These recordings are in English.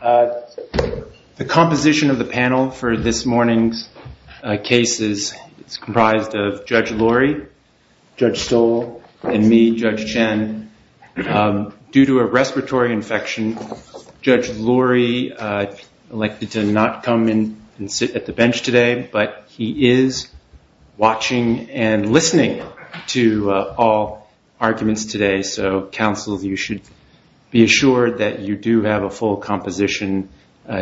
The composition of the panel for this morning's case is comprised of Judge Lurie, Judge Stoll, and me, Judge Chen. Due to a respiratory infection, Judge Lurie elected to not come in and sit at the bench today, but he is watching and listening to all arguments today. So, counsel, you should be assured that you do have a full composition,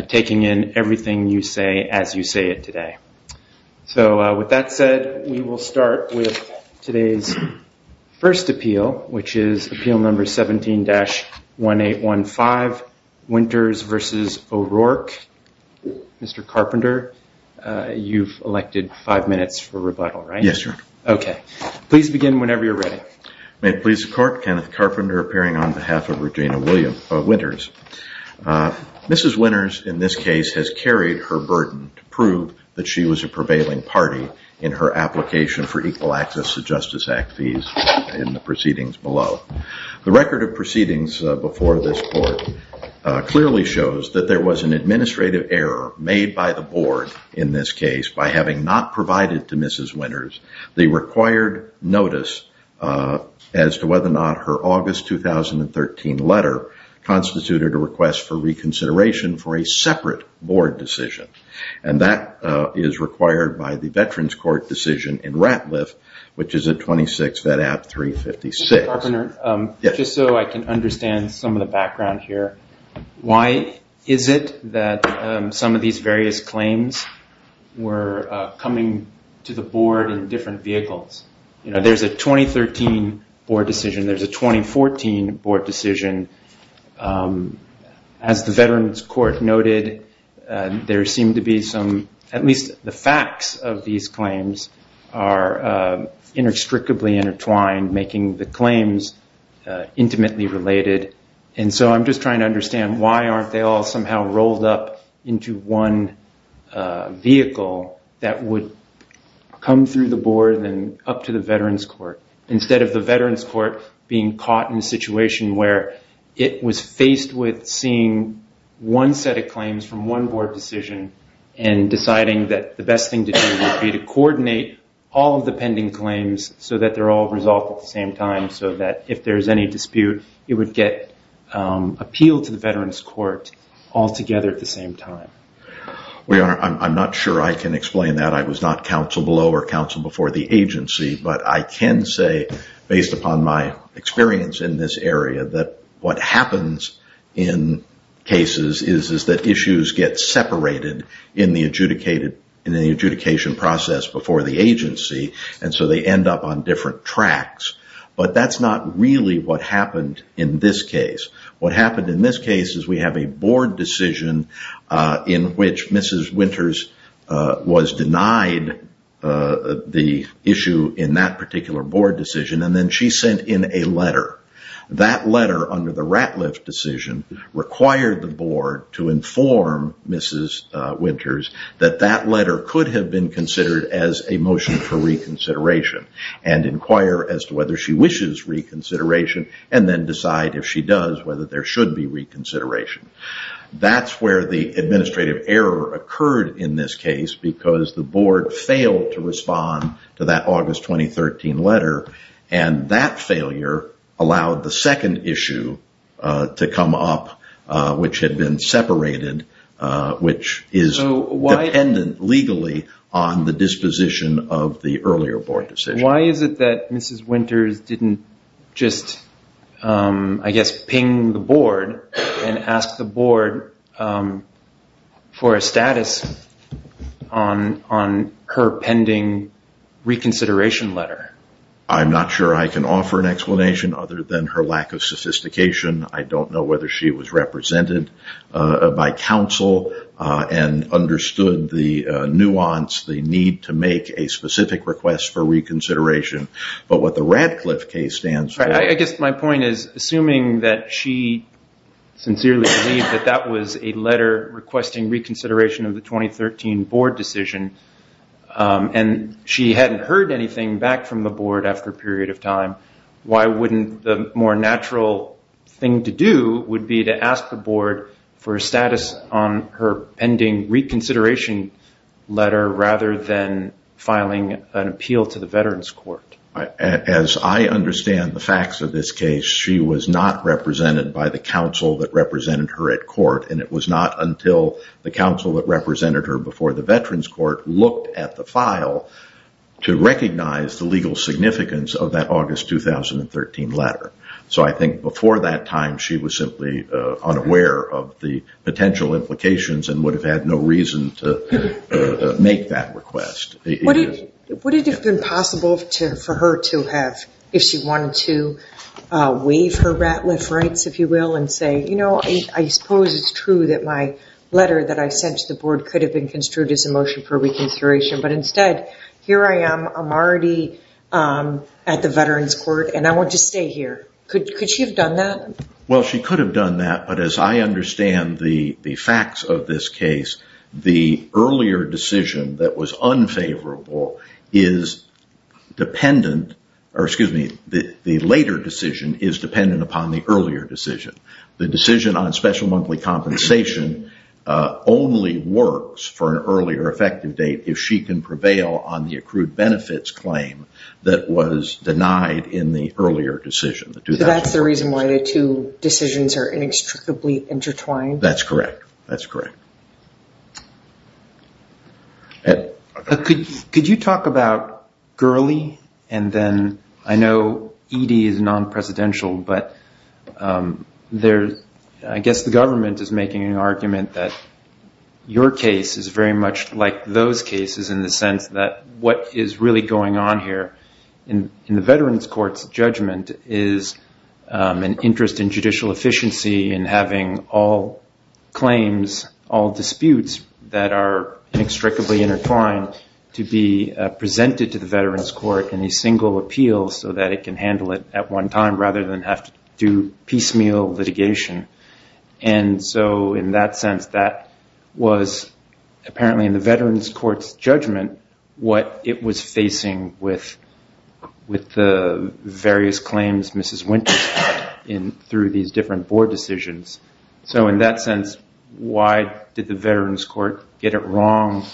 taking in everything you say as you say it today. So, with that said, we will start with today's first appeal, which is appeal number 17-1815, Winters v. O'Rourke. Mr. Carpenter, you've elected five minutes for rebuttal, right? Yes, sir. Okay. Please begin whenever you're ready. May it please the Court, Kenneth Carpenter appearing on behalf of Regina Winters. Mrs. Winters, in this case, has carried her burden to prove that she was a prevailing party in her application for equal access to Justice Act fees in the proceedings below. The record of proceedings before this Court clearly shows that there was an administrative error made by the Board in this case by having not provided to Mrs. Winters the required notice as to whether or not her August 2013 letter constituted a request for reconsideration for a separate Board decision. And that is required by the Veterans Court decision in Ratliff, which is at 26 Vedat 356. Mr. Carpenter, just so I can understand some of the background here, why is it that some of these various claims were coming to the Board in different vehicles? You know, there's a 2013 Board decision, there's a 2014 Board decision. As the Veterans Court noted, there seemed to be some, at least the facts of these claims are inextricably intertwined, making the claims intimately related. And so I'm just trying to understand why aren't they all somehow rolled up into one vehicle that would come through the Board and up to the Veterans Court, instead of the Veterans Court being caught in a situation where it was faced with seeing one set of claims from one Board decision and deciding that the best thing to do would be to coordinate all of the pending claims so that they're all resolved at the same time, so that if there's any dispute, it would get appealed to the Veterans Court all together at the same time. Well, Your Honor, I'm not sure I can explain that. I was not counsel below or counsel before the agency. But I can say, based upon my experience in this area, that what happens in cases is that issues get separated in the adjudication process before the agency, and so they end up on different tracks. But that's not really what happened in this case. What happened in this case is we have a Board decision in which Mrs. Winters was denied the issue in that particular Board decision, and then she sent in a letter. That letter, under the Ratliff decision, required the Board to inform Mrs. Winters that that letter could have been considered as a motion for reconsideration, and inquire as to whether she wishes reconsideration, and then decide, if she does, whether there should be reconsideration. That's where the administrative error occurred in this case, because the Board failed to respond to that August 2013 letter, and that failure allowed the second issue to come up, which had been separated, which is dependent legally on the disposition of the earlier Board decision. Why is it that Mrs. Winters didn't just, I guess, ping the Board and ask the Board for a status on her pending reconsideration letter? I'm not sure I can offer an explanation other than her lack of sophistication. I don't know whether she was represented by counsel and understood the nuance, the need to make a specific request for reconsideration. I guess my point is, assuming that she sincerely believed that that was a letter requesting reconsideration of the 2013 Board decision, and she hadn't heard anything back from the Board after a period of time, why wouldn't the more natural thing to do would be to ask the Board for a status on her pending reconsideration letter, rather than filing an appeal to the Veterans Court? As I understand the facts of this case, she was not represented by the counsel that represented her at court, and it was not until the counsel that represented her before the Veterans Court looked at the file to recognize the legal significance of that August 2013 letter. So I think before that time, she was simply unaware of the potential implications and would have had no reason to make that request. Would it have been possible for her to have, if she wanted to, waive her Ratliff rights, if you will, and say, you know, I suppose it's true that my letter that I sent to the Board could have been construed as a motion for reconsideration, but instead, here I am, I'm already at the Veterans Court, and I want to stay here. Could she have done that? Well, she could have done that, but as I understand the facts of this case, the earlier decision that was unfavorable is dependent, or excuse me, the later decision is dependent upon the earlier decision. The decision on special monthly compensation only works for an earlier effective date if she can prevail on the accrued benefits claim that was denied in the earlier decision. So that's the reason why the two decisions are inextricably intertwined? That's correct. That's correct. Could you talk about Gurley, and then I know E.D. is non-presidential, but I guess the government is making an argument that your case is very much like those cases in the sense that what is really going on here in the Veterans Court's judgment is an interest in judicial efficiency and having all claims, all disputes that are inextricably intertwined. To be presented to the Veterans Court in a single appeal so that it can handle it at one time rather than have to do piecemeal litigation. And so in that sense, that was apparently in the Veterans Court's judgment what it was facing with the various claims Mrs. Winters had through these different board decisions. So in that sense, why did the Veterans Court get it wrong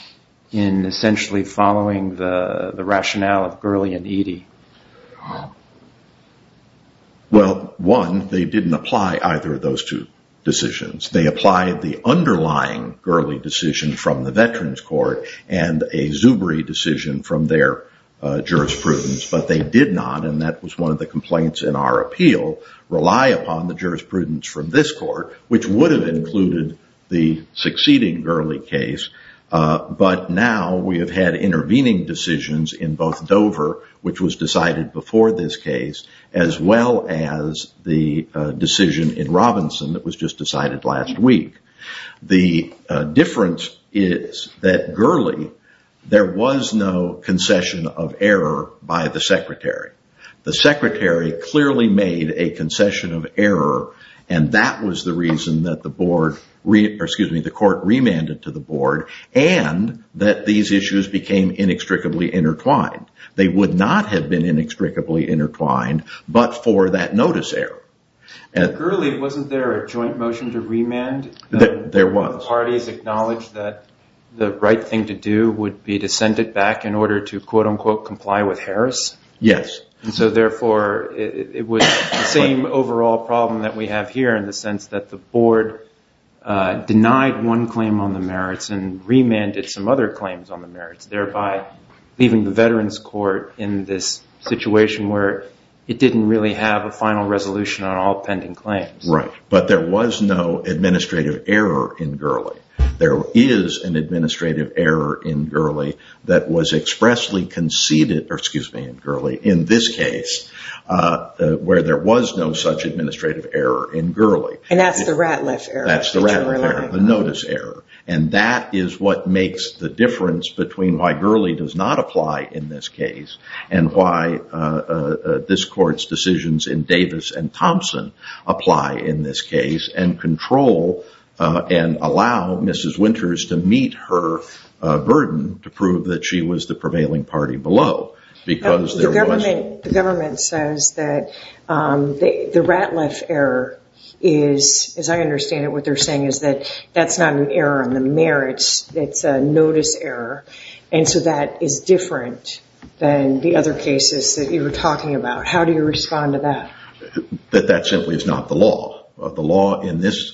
in essentially following the rationale of Gurley and E.D.? Well, one, they didn't apply either of those two decisions. They applied the underlying Gurley decision from the Veterans Court and a Zubri decision from their jurisprudence. But they did not, and that was one of the complaints in our appeal, rely upon the jurisprudence from this court, which would have included the succeeding Gurley case. But now we have had intervening decisions in both Dover, which was decided before this case, as well as the decision in Robinson that was just decided last week. The difference is that Gurley, there was no concession of error by the secretary. The secretary clearly made a concession of error, and that was the reason that the court remanded to the board and that these issues became inextricably intertwined. They would not have been inextricably intertwined but for that notice error. Gurley, wasn't there a joint motion to remand? There was. The parties acknowledged that the right thing to do would be to send it back in order to, quote unquote, comply with Harris? Yes. And so therefore, it was the same overall problem that we have here in the sense that the board denied one claim on the merits and remanded some other claims on the merits, thereby leaving the Veterans Court in this situation where it didn't really have a final resolution on all pending claims. Right. But there was no administrative error in Gurley. There is an administrative error in Gurley that was expressly conceded, or excuse me, in Gurley, in this case, where there was no such administrative error in Gurley. And that's the Ratliff error. That's the Ratliff error, the notice error. And that is what makes the difference between why Gurley does not apply in this case and why this court's decisions in Davis and Thompson apply in this case and control and allow Mrs. Winters to meet her burden to prove that she was the prevailing party below. The government says that the Ratliff error is, as I understand it, what they're saying is that that's not an error on the merits. It's a notice error. And so that is different than the other cases that you were talking about. How do you respond to that? That that simply is not the law. The law in this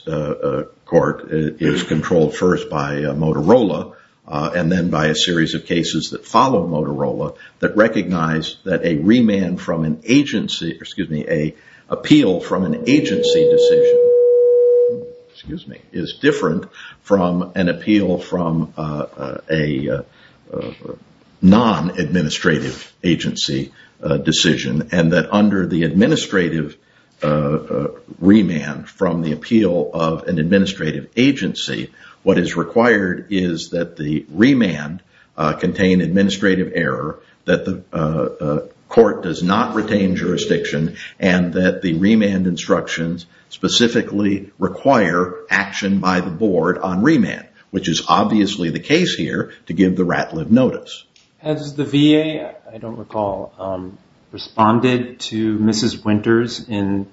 court is controlled first by Motorola and then by a series of cases that follow Motorola that recognize that a remand from an agency, excuse me, a appeal from an agency decision, excuse me, is different from an appeal from a non-administrative agency decision. And that under the administrative remand from the appeal of an administrative agency, what is required is that the remand contain administrative error, that the court does not retain jurisdiction, and that the remand instructions specifically require action by the board on remand, which is obviously the case here to give the Ratliff notice. Has the VA, I don't recall, responded to Mrs. Winters in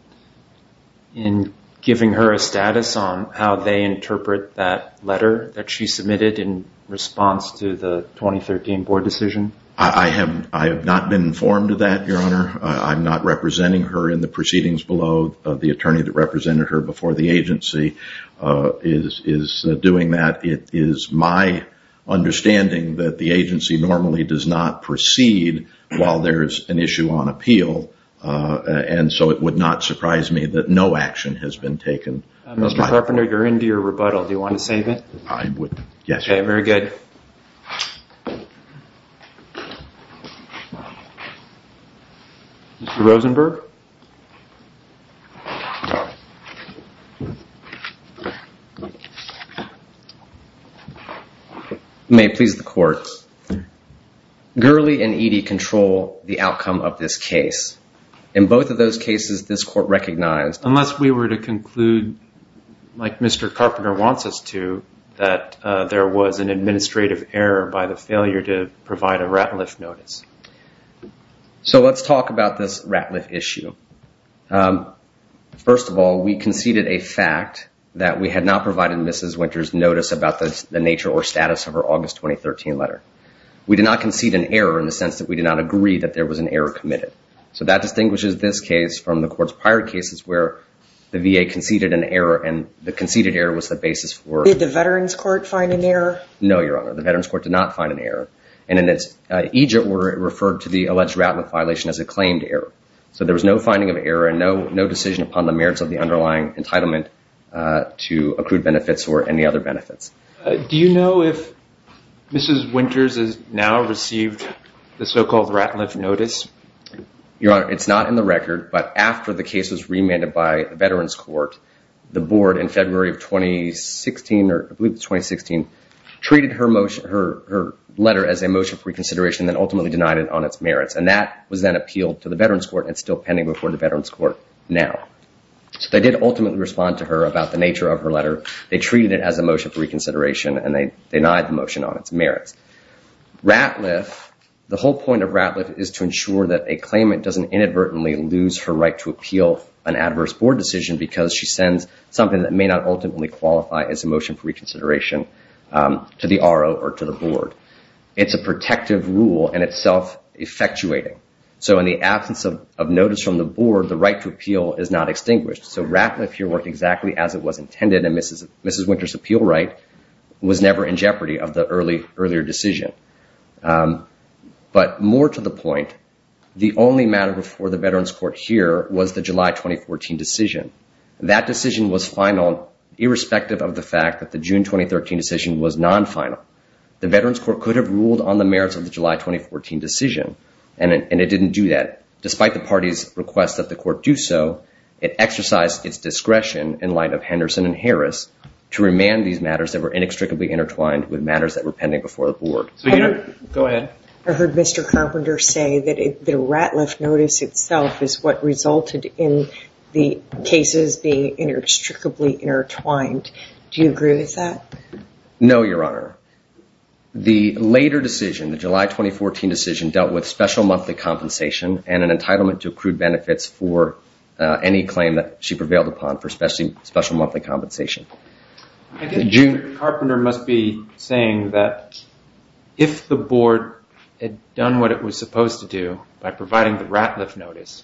giving her a status on how they interpret that letter that she submitted in response to the 2013 board decision? I have not been informed of that, Your Honor. I'm not representing her in the proceedings below. The attorney that represented her before the agency is doing that. It is my understanding that the agency normally does not proceed while there is an issue on appeal. And so it would not surprise me that no action has been taken. Mr. Carpenter, you're into your rebuttal. Do you want to save it? I would, yes. Okay, very good. Mr. Rosenberg? May it please the court, Gurley and Eadie control the outcome of this case. In both of those cases, this court recognized. Unless we were to conclude, like Mr. Carpenter wants us to, that there was an administrative error by the failure to provide a Ratliff notice. So let's talk about this Ratliff issue. First of all, we conceded a fact that we had not provided Mrs. Winters notice about the nature or status of her August 2013 letter. We did not concede an error in the sense that we did not agree that there was an error committed. So that distinguishes this case from the court's prior cases where the VA conceded an error and the conceded error was the basis for... Did the Veterans Court find an error? No, Your Honor. The Veterans Court did not find an error. And in its Egypt order, it referred to the alleged Ratliff violation as a claimed error. So there was no finding of error and no decision upon the merits of the underlying entitlement to accrued benefits or any other benefits. Do you know if Mrs. Winters has now received the so-called Ratliff notice? Your Honor, it's not in the record. But after the case was remanded by the Veterans Court, the board in February of 2016, I believe it was 2016, treated her letter as a motion for reconsideration and ultimately denied it on its merits. And that was then appealed to the Veterans Court, and it's still pending before the Veterans Court now. They did ultimately respond to her about the nature of her letter. They treated it as a motion for reconsideration, and they denied the motion on its merits. Ratliff, the whole point of Ratliff is to ensure that a claimant doesn't inadvertently lose her right to appeal an adverse board decision because she sends something that may not ultimately qualify as a motion for reconsideration to the RO or to the board. It's a protective rule, and it's self-effectuating. So in the absence of notice from the board, the right to appeal is not extinguished. So Ratliff here worked exactly as it was intended, and Mrs. Winter's appeal right was never in jeopardy of the earlier decision. But more to the point, the only matter before the Veterans Court here was the July 2014 decision. That decision was final, irrespective of the fact that the June 2013 decision was non-final. The Veterans Court could have ruled on the merits of the July 2014 decision, and it didn't do that. Despite the party's request that the court do so, it exercised its discretion in light of Henderson and Harris to remand these matters that were inextricably intertwined with matters that were pending before the board. Go ahead. I heard Mr. Carpenter say that the Ratliff notice itself is what resulted in the cases being inextricably intertwined. Do you agree with that? No, Your Honor. The later decision, the July 2014 decision, dealt with special monthly compensation and an entitlement to accrued benefits for any claim that she prevailed upon for special monthly compensation. I think Mr. Carpenter must be saying that if the board had done what it was supposed to do by providing the Ratliff notice,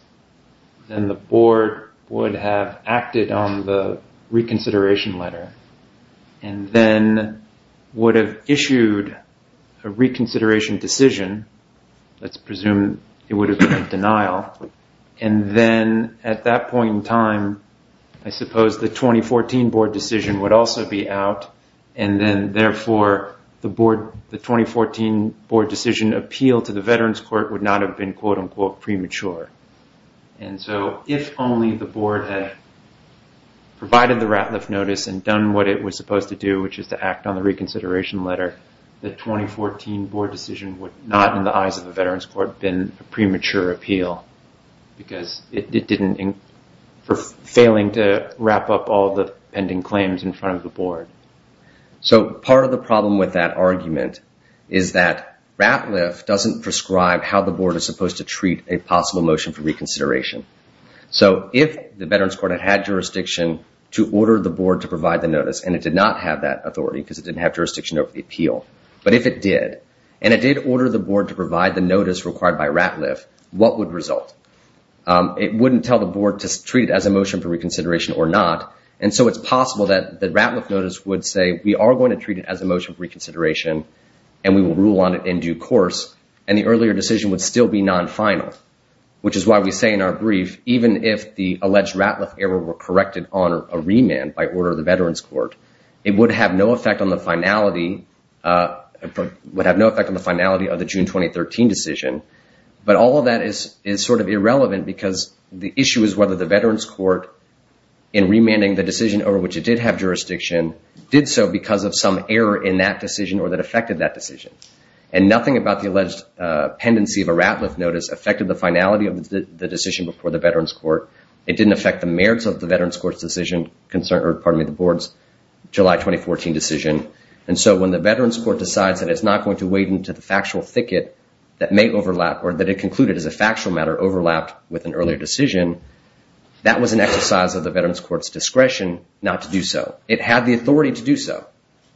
then the board would have acted on the reconsideration letter and then would have issued a reconsideration decision. Let's presume it would have been a denial. And then at that point in time, I suppose the 2014 board decision would also be out, and then therefore the 2014 board decision appeal to the Veterans Court would not have been quote-unquote premature. And so if only the board had provided the Ratliff notice and done what it was supposed to do, which is to act on the reconsideration letter, the 2014 board decision would not, in the eyes of the Veterans Court, have been a premature appeal because it didn't, for failing to wrap up all the pending claims in front of the board. So part of the problem with that argument is that Ratliff doesn't prescribe how the board is supposed to treat a possible motion for reconsideration. So if the Veterans Court had had jurisdiction to order the board to provide the notice, and it did not have that authority because it didn't have jurisdiction over the appeal, but if it did, and it did order the board to provide the notice required by Ratliff, what would result? It wouldn't tell the board to treat it as a motion for reconsideration or not. And so it's possible that the Ratliff notice would say we are going to treat it as a motion for reconsideration and we will rule on it in due course. And the earlier decision would still be non-final, which is why we say in our brief, even if the alleged Ratliff error were corrected on a remand by order of the Veterans Court, it would have no effect on the finality of the June 2013 decision. But all of that is sort of irrelevant because the issue is whether the Veterans Court, in remanding the decision over which it did have jurisdiction, did so because of some error in that decision or that affected that decision. And nothing about the alleged pendency of a Ratliff notice affected the finality of the decision before the Veterans Court. It didn't affect the merits of the Veterans Court's decision concern, or pardon me, the board's July 2014 decision. And so when the Veterans Court decides that it's not going to wade into the factual thicket that may overlap or that it concluded as a factual matter overlapped with an earlier decision, that was an exercise of the Veterans Court's discretion not to do so. It had the authority to do so,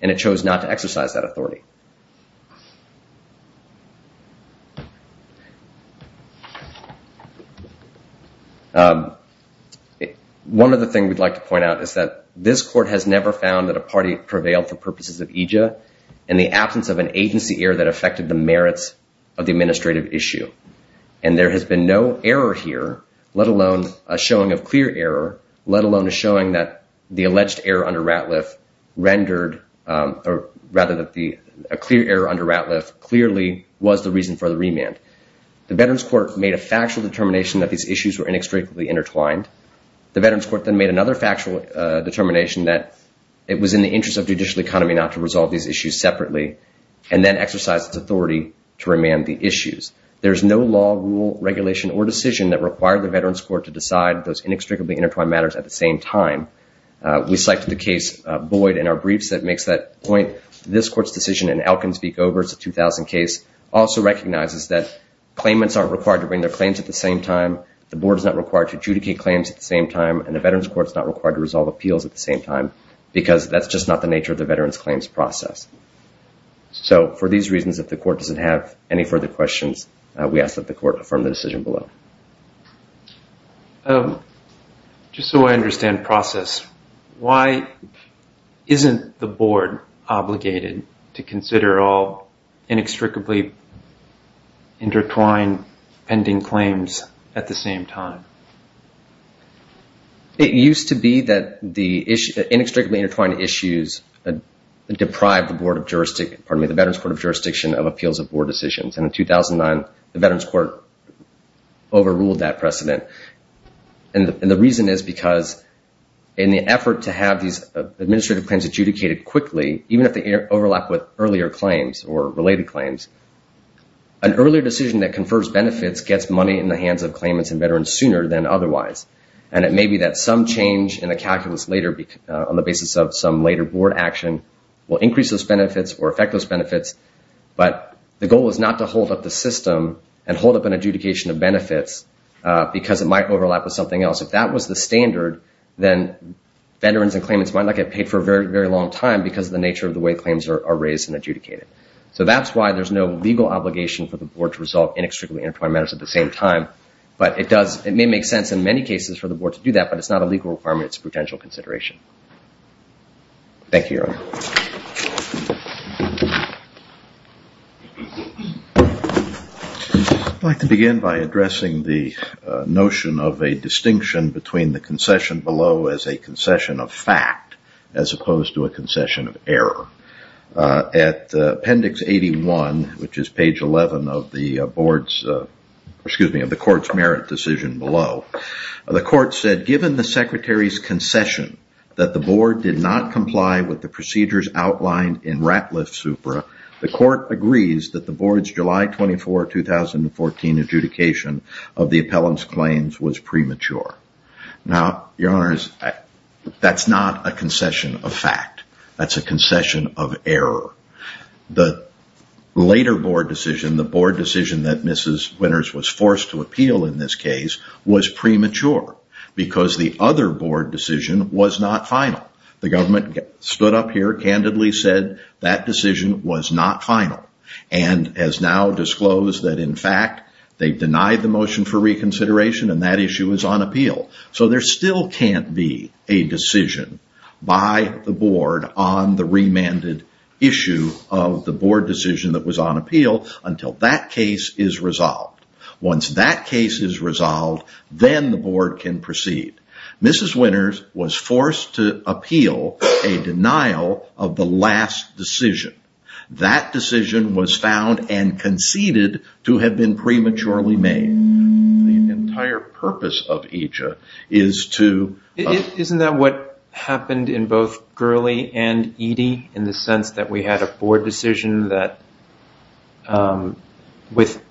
and it chose not to exercise that authority. One of the things we'd like to point out is that this court has never found that a party prevailed for purposes of EJA in the absence of an agency error that affected the merits of the administrative issue. And there has been no error here, let alone a showing of clear error, let alone a showing that the alleged error under Ratliff rendered, or rather that a clear error under Ratliff clearly was the reason for the remand. The Veterans Court made a factual determination that these issues were inextricably intertwined. The Veterans Court then made another factual determination that it was in the interest of judicial economy not to resolve these issues separately, and then exercised its authority to remand the issues. There is no law, rule, regulation, or decision that required the Veterans Court to decide those inextricably intertwined matters at the same time. We cite the case of Boyd in our briefs that makes that point. This court's decision in Elkins v. Goebers, the 2000 case, also recognizes that claimants aren't required to bring their claims at the same time, the board is not required to adjudicate claims at the same time, and the Veterans Court is not required to resolve appeals at the same time, because that's just not the nature of the Veterans Claims process. So for these reasons, if the court doesn't have any further questions, we ask that the court affirm the decision below. Just so I understand the process, why isn't the board obligated to consider all inextricably intertwined pending claims at the same time? It used to be that the inextricably intertwined issues deprived the board of jurisdiction, pardon me, the Veterans Court of jurisdiction of appeals of board decisions, and in 2009, the Veterans Court overruled that precedent. And the reason is because in the effort to have these administrative claims adjudicated quickly, even if they overlap with earlier claims or related claims, an earlier decision that confers benefits gets money in the hands of claimants and veterans sooner than otherwise, and it may be that some change in the calculus later on the basis of some later board action will increase those benefits or affect those benefits, but the goal is not to hold up the system and hold up an adjudication of benefits because it might overlap with something else. If that was the standard, then veterans and claimants might not get paid for a very, very long time because of the nature of the way claims are raised and adjudicated. So that's why there's no legal obligation for the board to resolve inextricably intertwined matters at the same time, but it may make sense in many cases for the board to do that, but it's not a legal requirement. It's a potential consideration. Thank you, Your Honor. I'd like to begin by addressing the notion of a distinction between the concession below as a concession of fact as opposed to a concession of error. At appendix 81, which is page 11 of the board's, excuse me, of the court's merit decision below, the court said given the secretary's concession that the board did not comply with the procedures outlined in Ratliff-Supra, the court agrees that the board's July 24, 2014 adjudication of the appellant's claims was premature. Now, Your Honors, that's not a concession of fact. That's a concession of error. The later board decision, the board decision that Mrs. Winters was forced to appeal in this case, was premature because the other board decision was not final. The government stood up here, candidly said that decision was not final and has now disclosed that in fact they've denied the motion for reconsideration and that issue is on appeal. So there still can't be a decision by the board on the remanded issue of the board decision that was on appeal until that case is resolved. Once that case is resolved, then the board can proceed. Mrs. Winters was forced to appeal a denial of the last decision. That decision was found and conceded to have been prematurely made. The entire purpose of EJIA is to... Isn't that what happened in both Gurley and EDIE in the sense that we had a board decision that with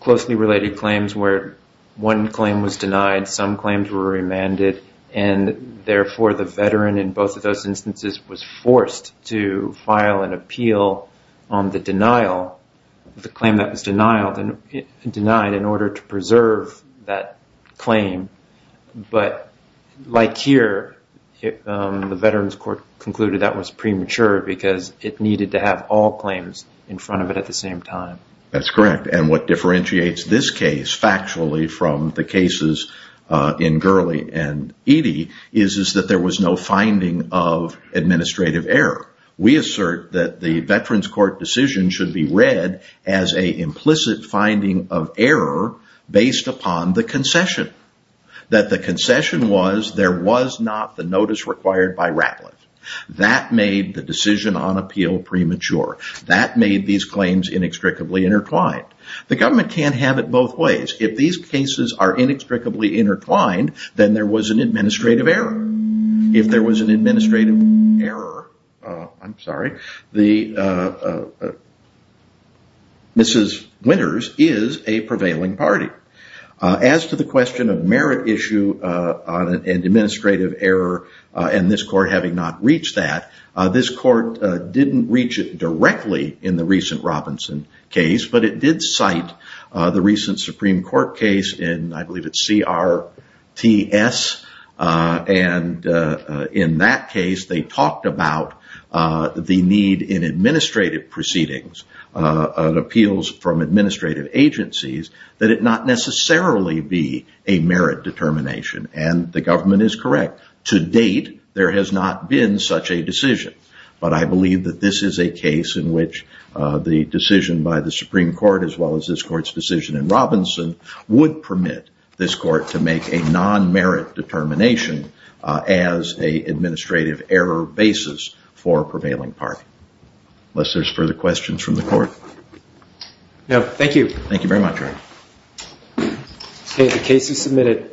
closely related claims where one claim was denied, some claims were remanded, and therefore the veteran in both of those instances was forced to file an appeal on the denial, the claim that was denied in order to preserve that claim. But like here, the Veterans Court concluded that was premature because it needed to have all claims in front of it at the same time. That's correct, and what differentiates this case factually from the cases in Gurley and EDIE is that there was no finding of administrative error. We assert that the Veterans Court decision should be read as an implicit finding of error based upon the concession. That the concession was there was not the notice required by Ratlin. That made the decision on appeal premature. That made these claims inextricably intertwined. The government can't have it both ways. If these cases are inextricably intertwined, then there was an administrative error. If there was an administrative error, I'm sorry, Mrs. Winters is a prevailing party. As to the question of merit issue and administrative error and this court having not reached that, this court didn't reach it directly in the recent Robinson case, but it did cite the recent Supreme Court case in, I believe it's CRTS. And in that case, they talked about the need in administrative proceedings, appeals from administrative agencies, that it not necessarily be a merit determination. And the government is correct. To date, there has not been such a decision. But I believe that this is a case in which the decision by the Supreme Court, as well as this court's decision in Robinson, would permit this court to make a non-merit determination as an administrative error basis for a prevailing party. Unless there's further questions from the court. Thank you. Thank you very much, Eric. The case is submitted.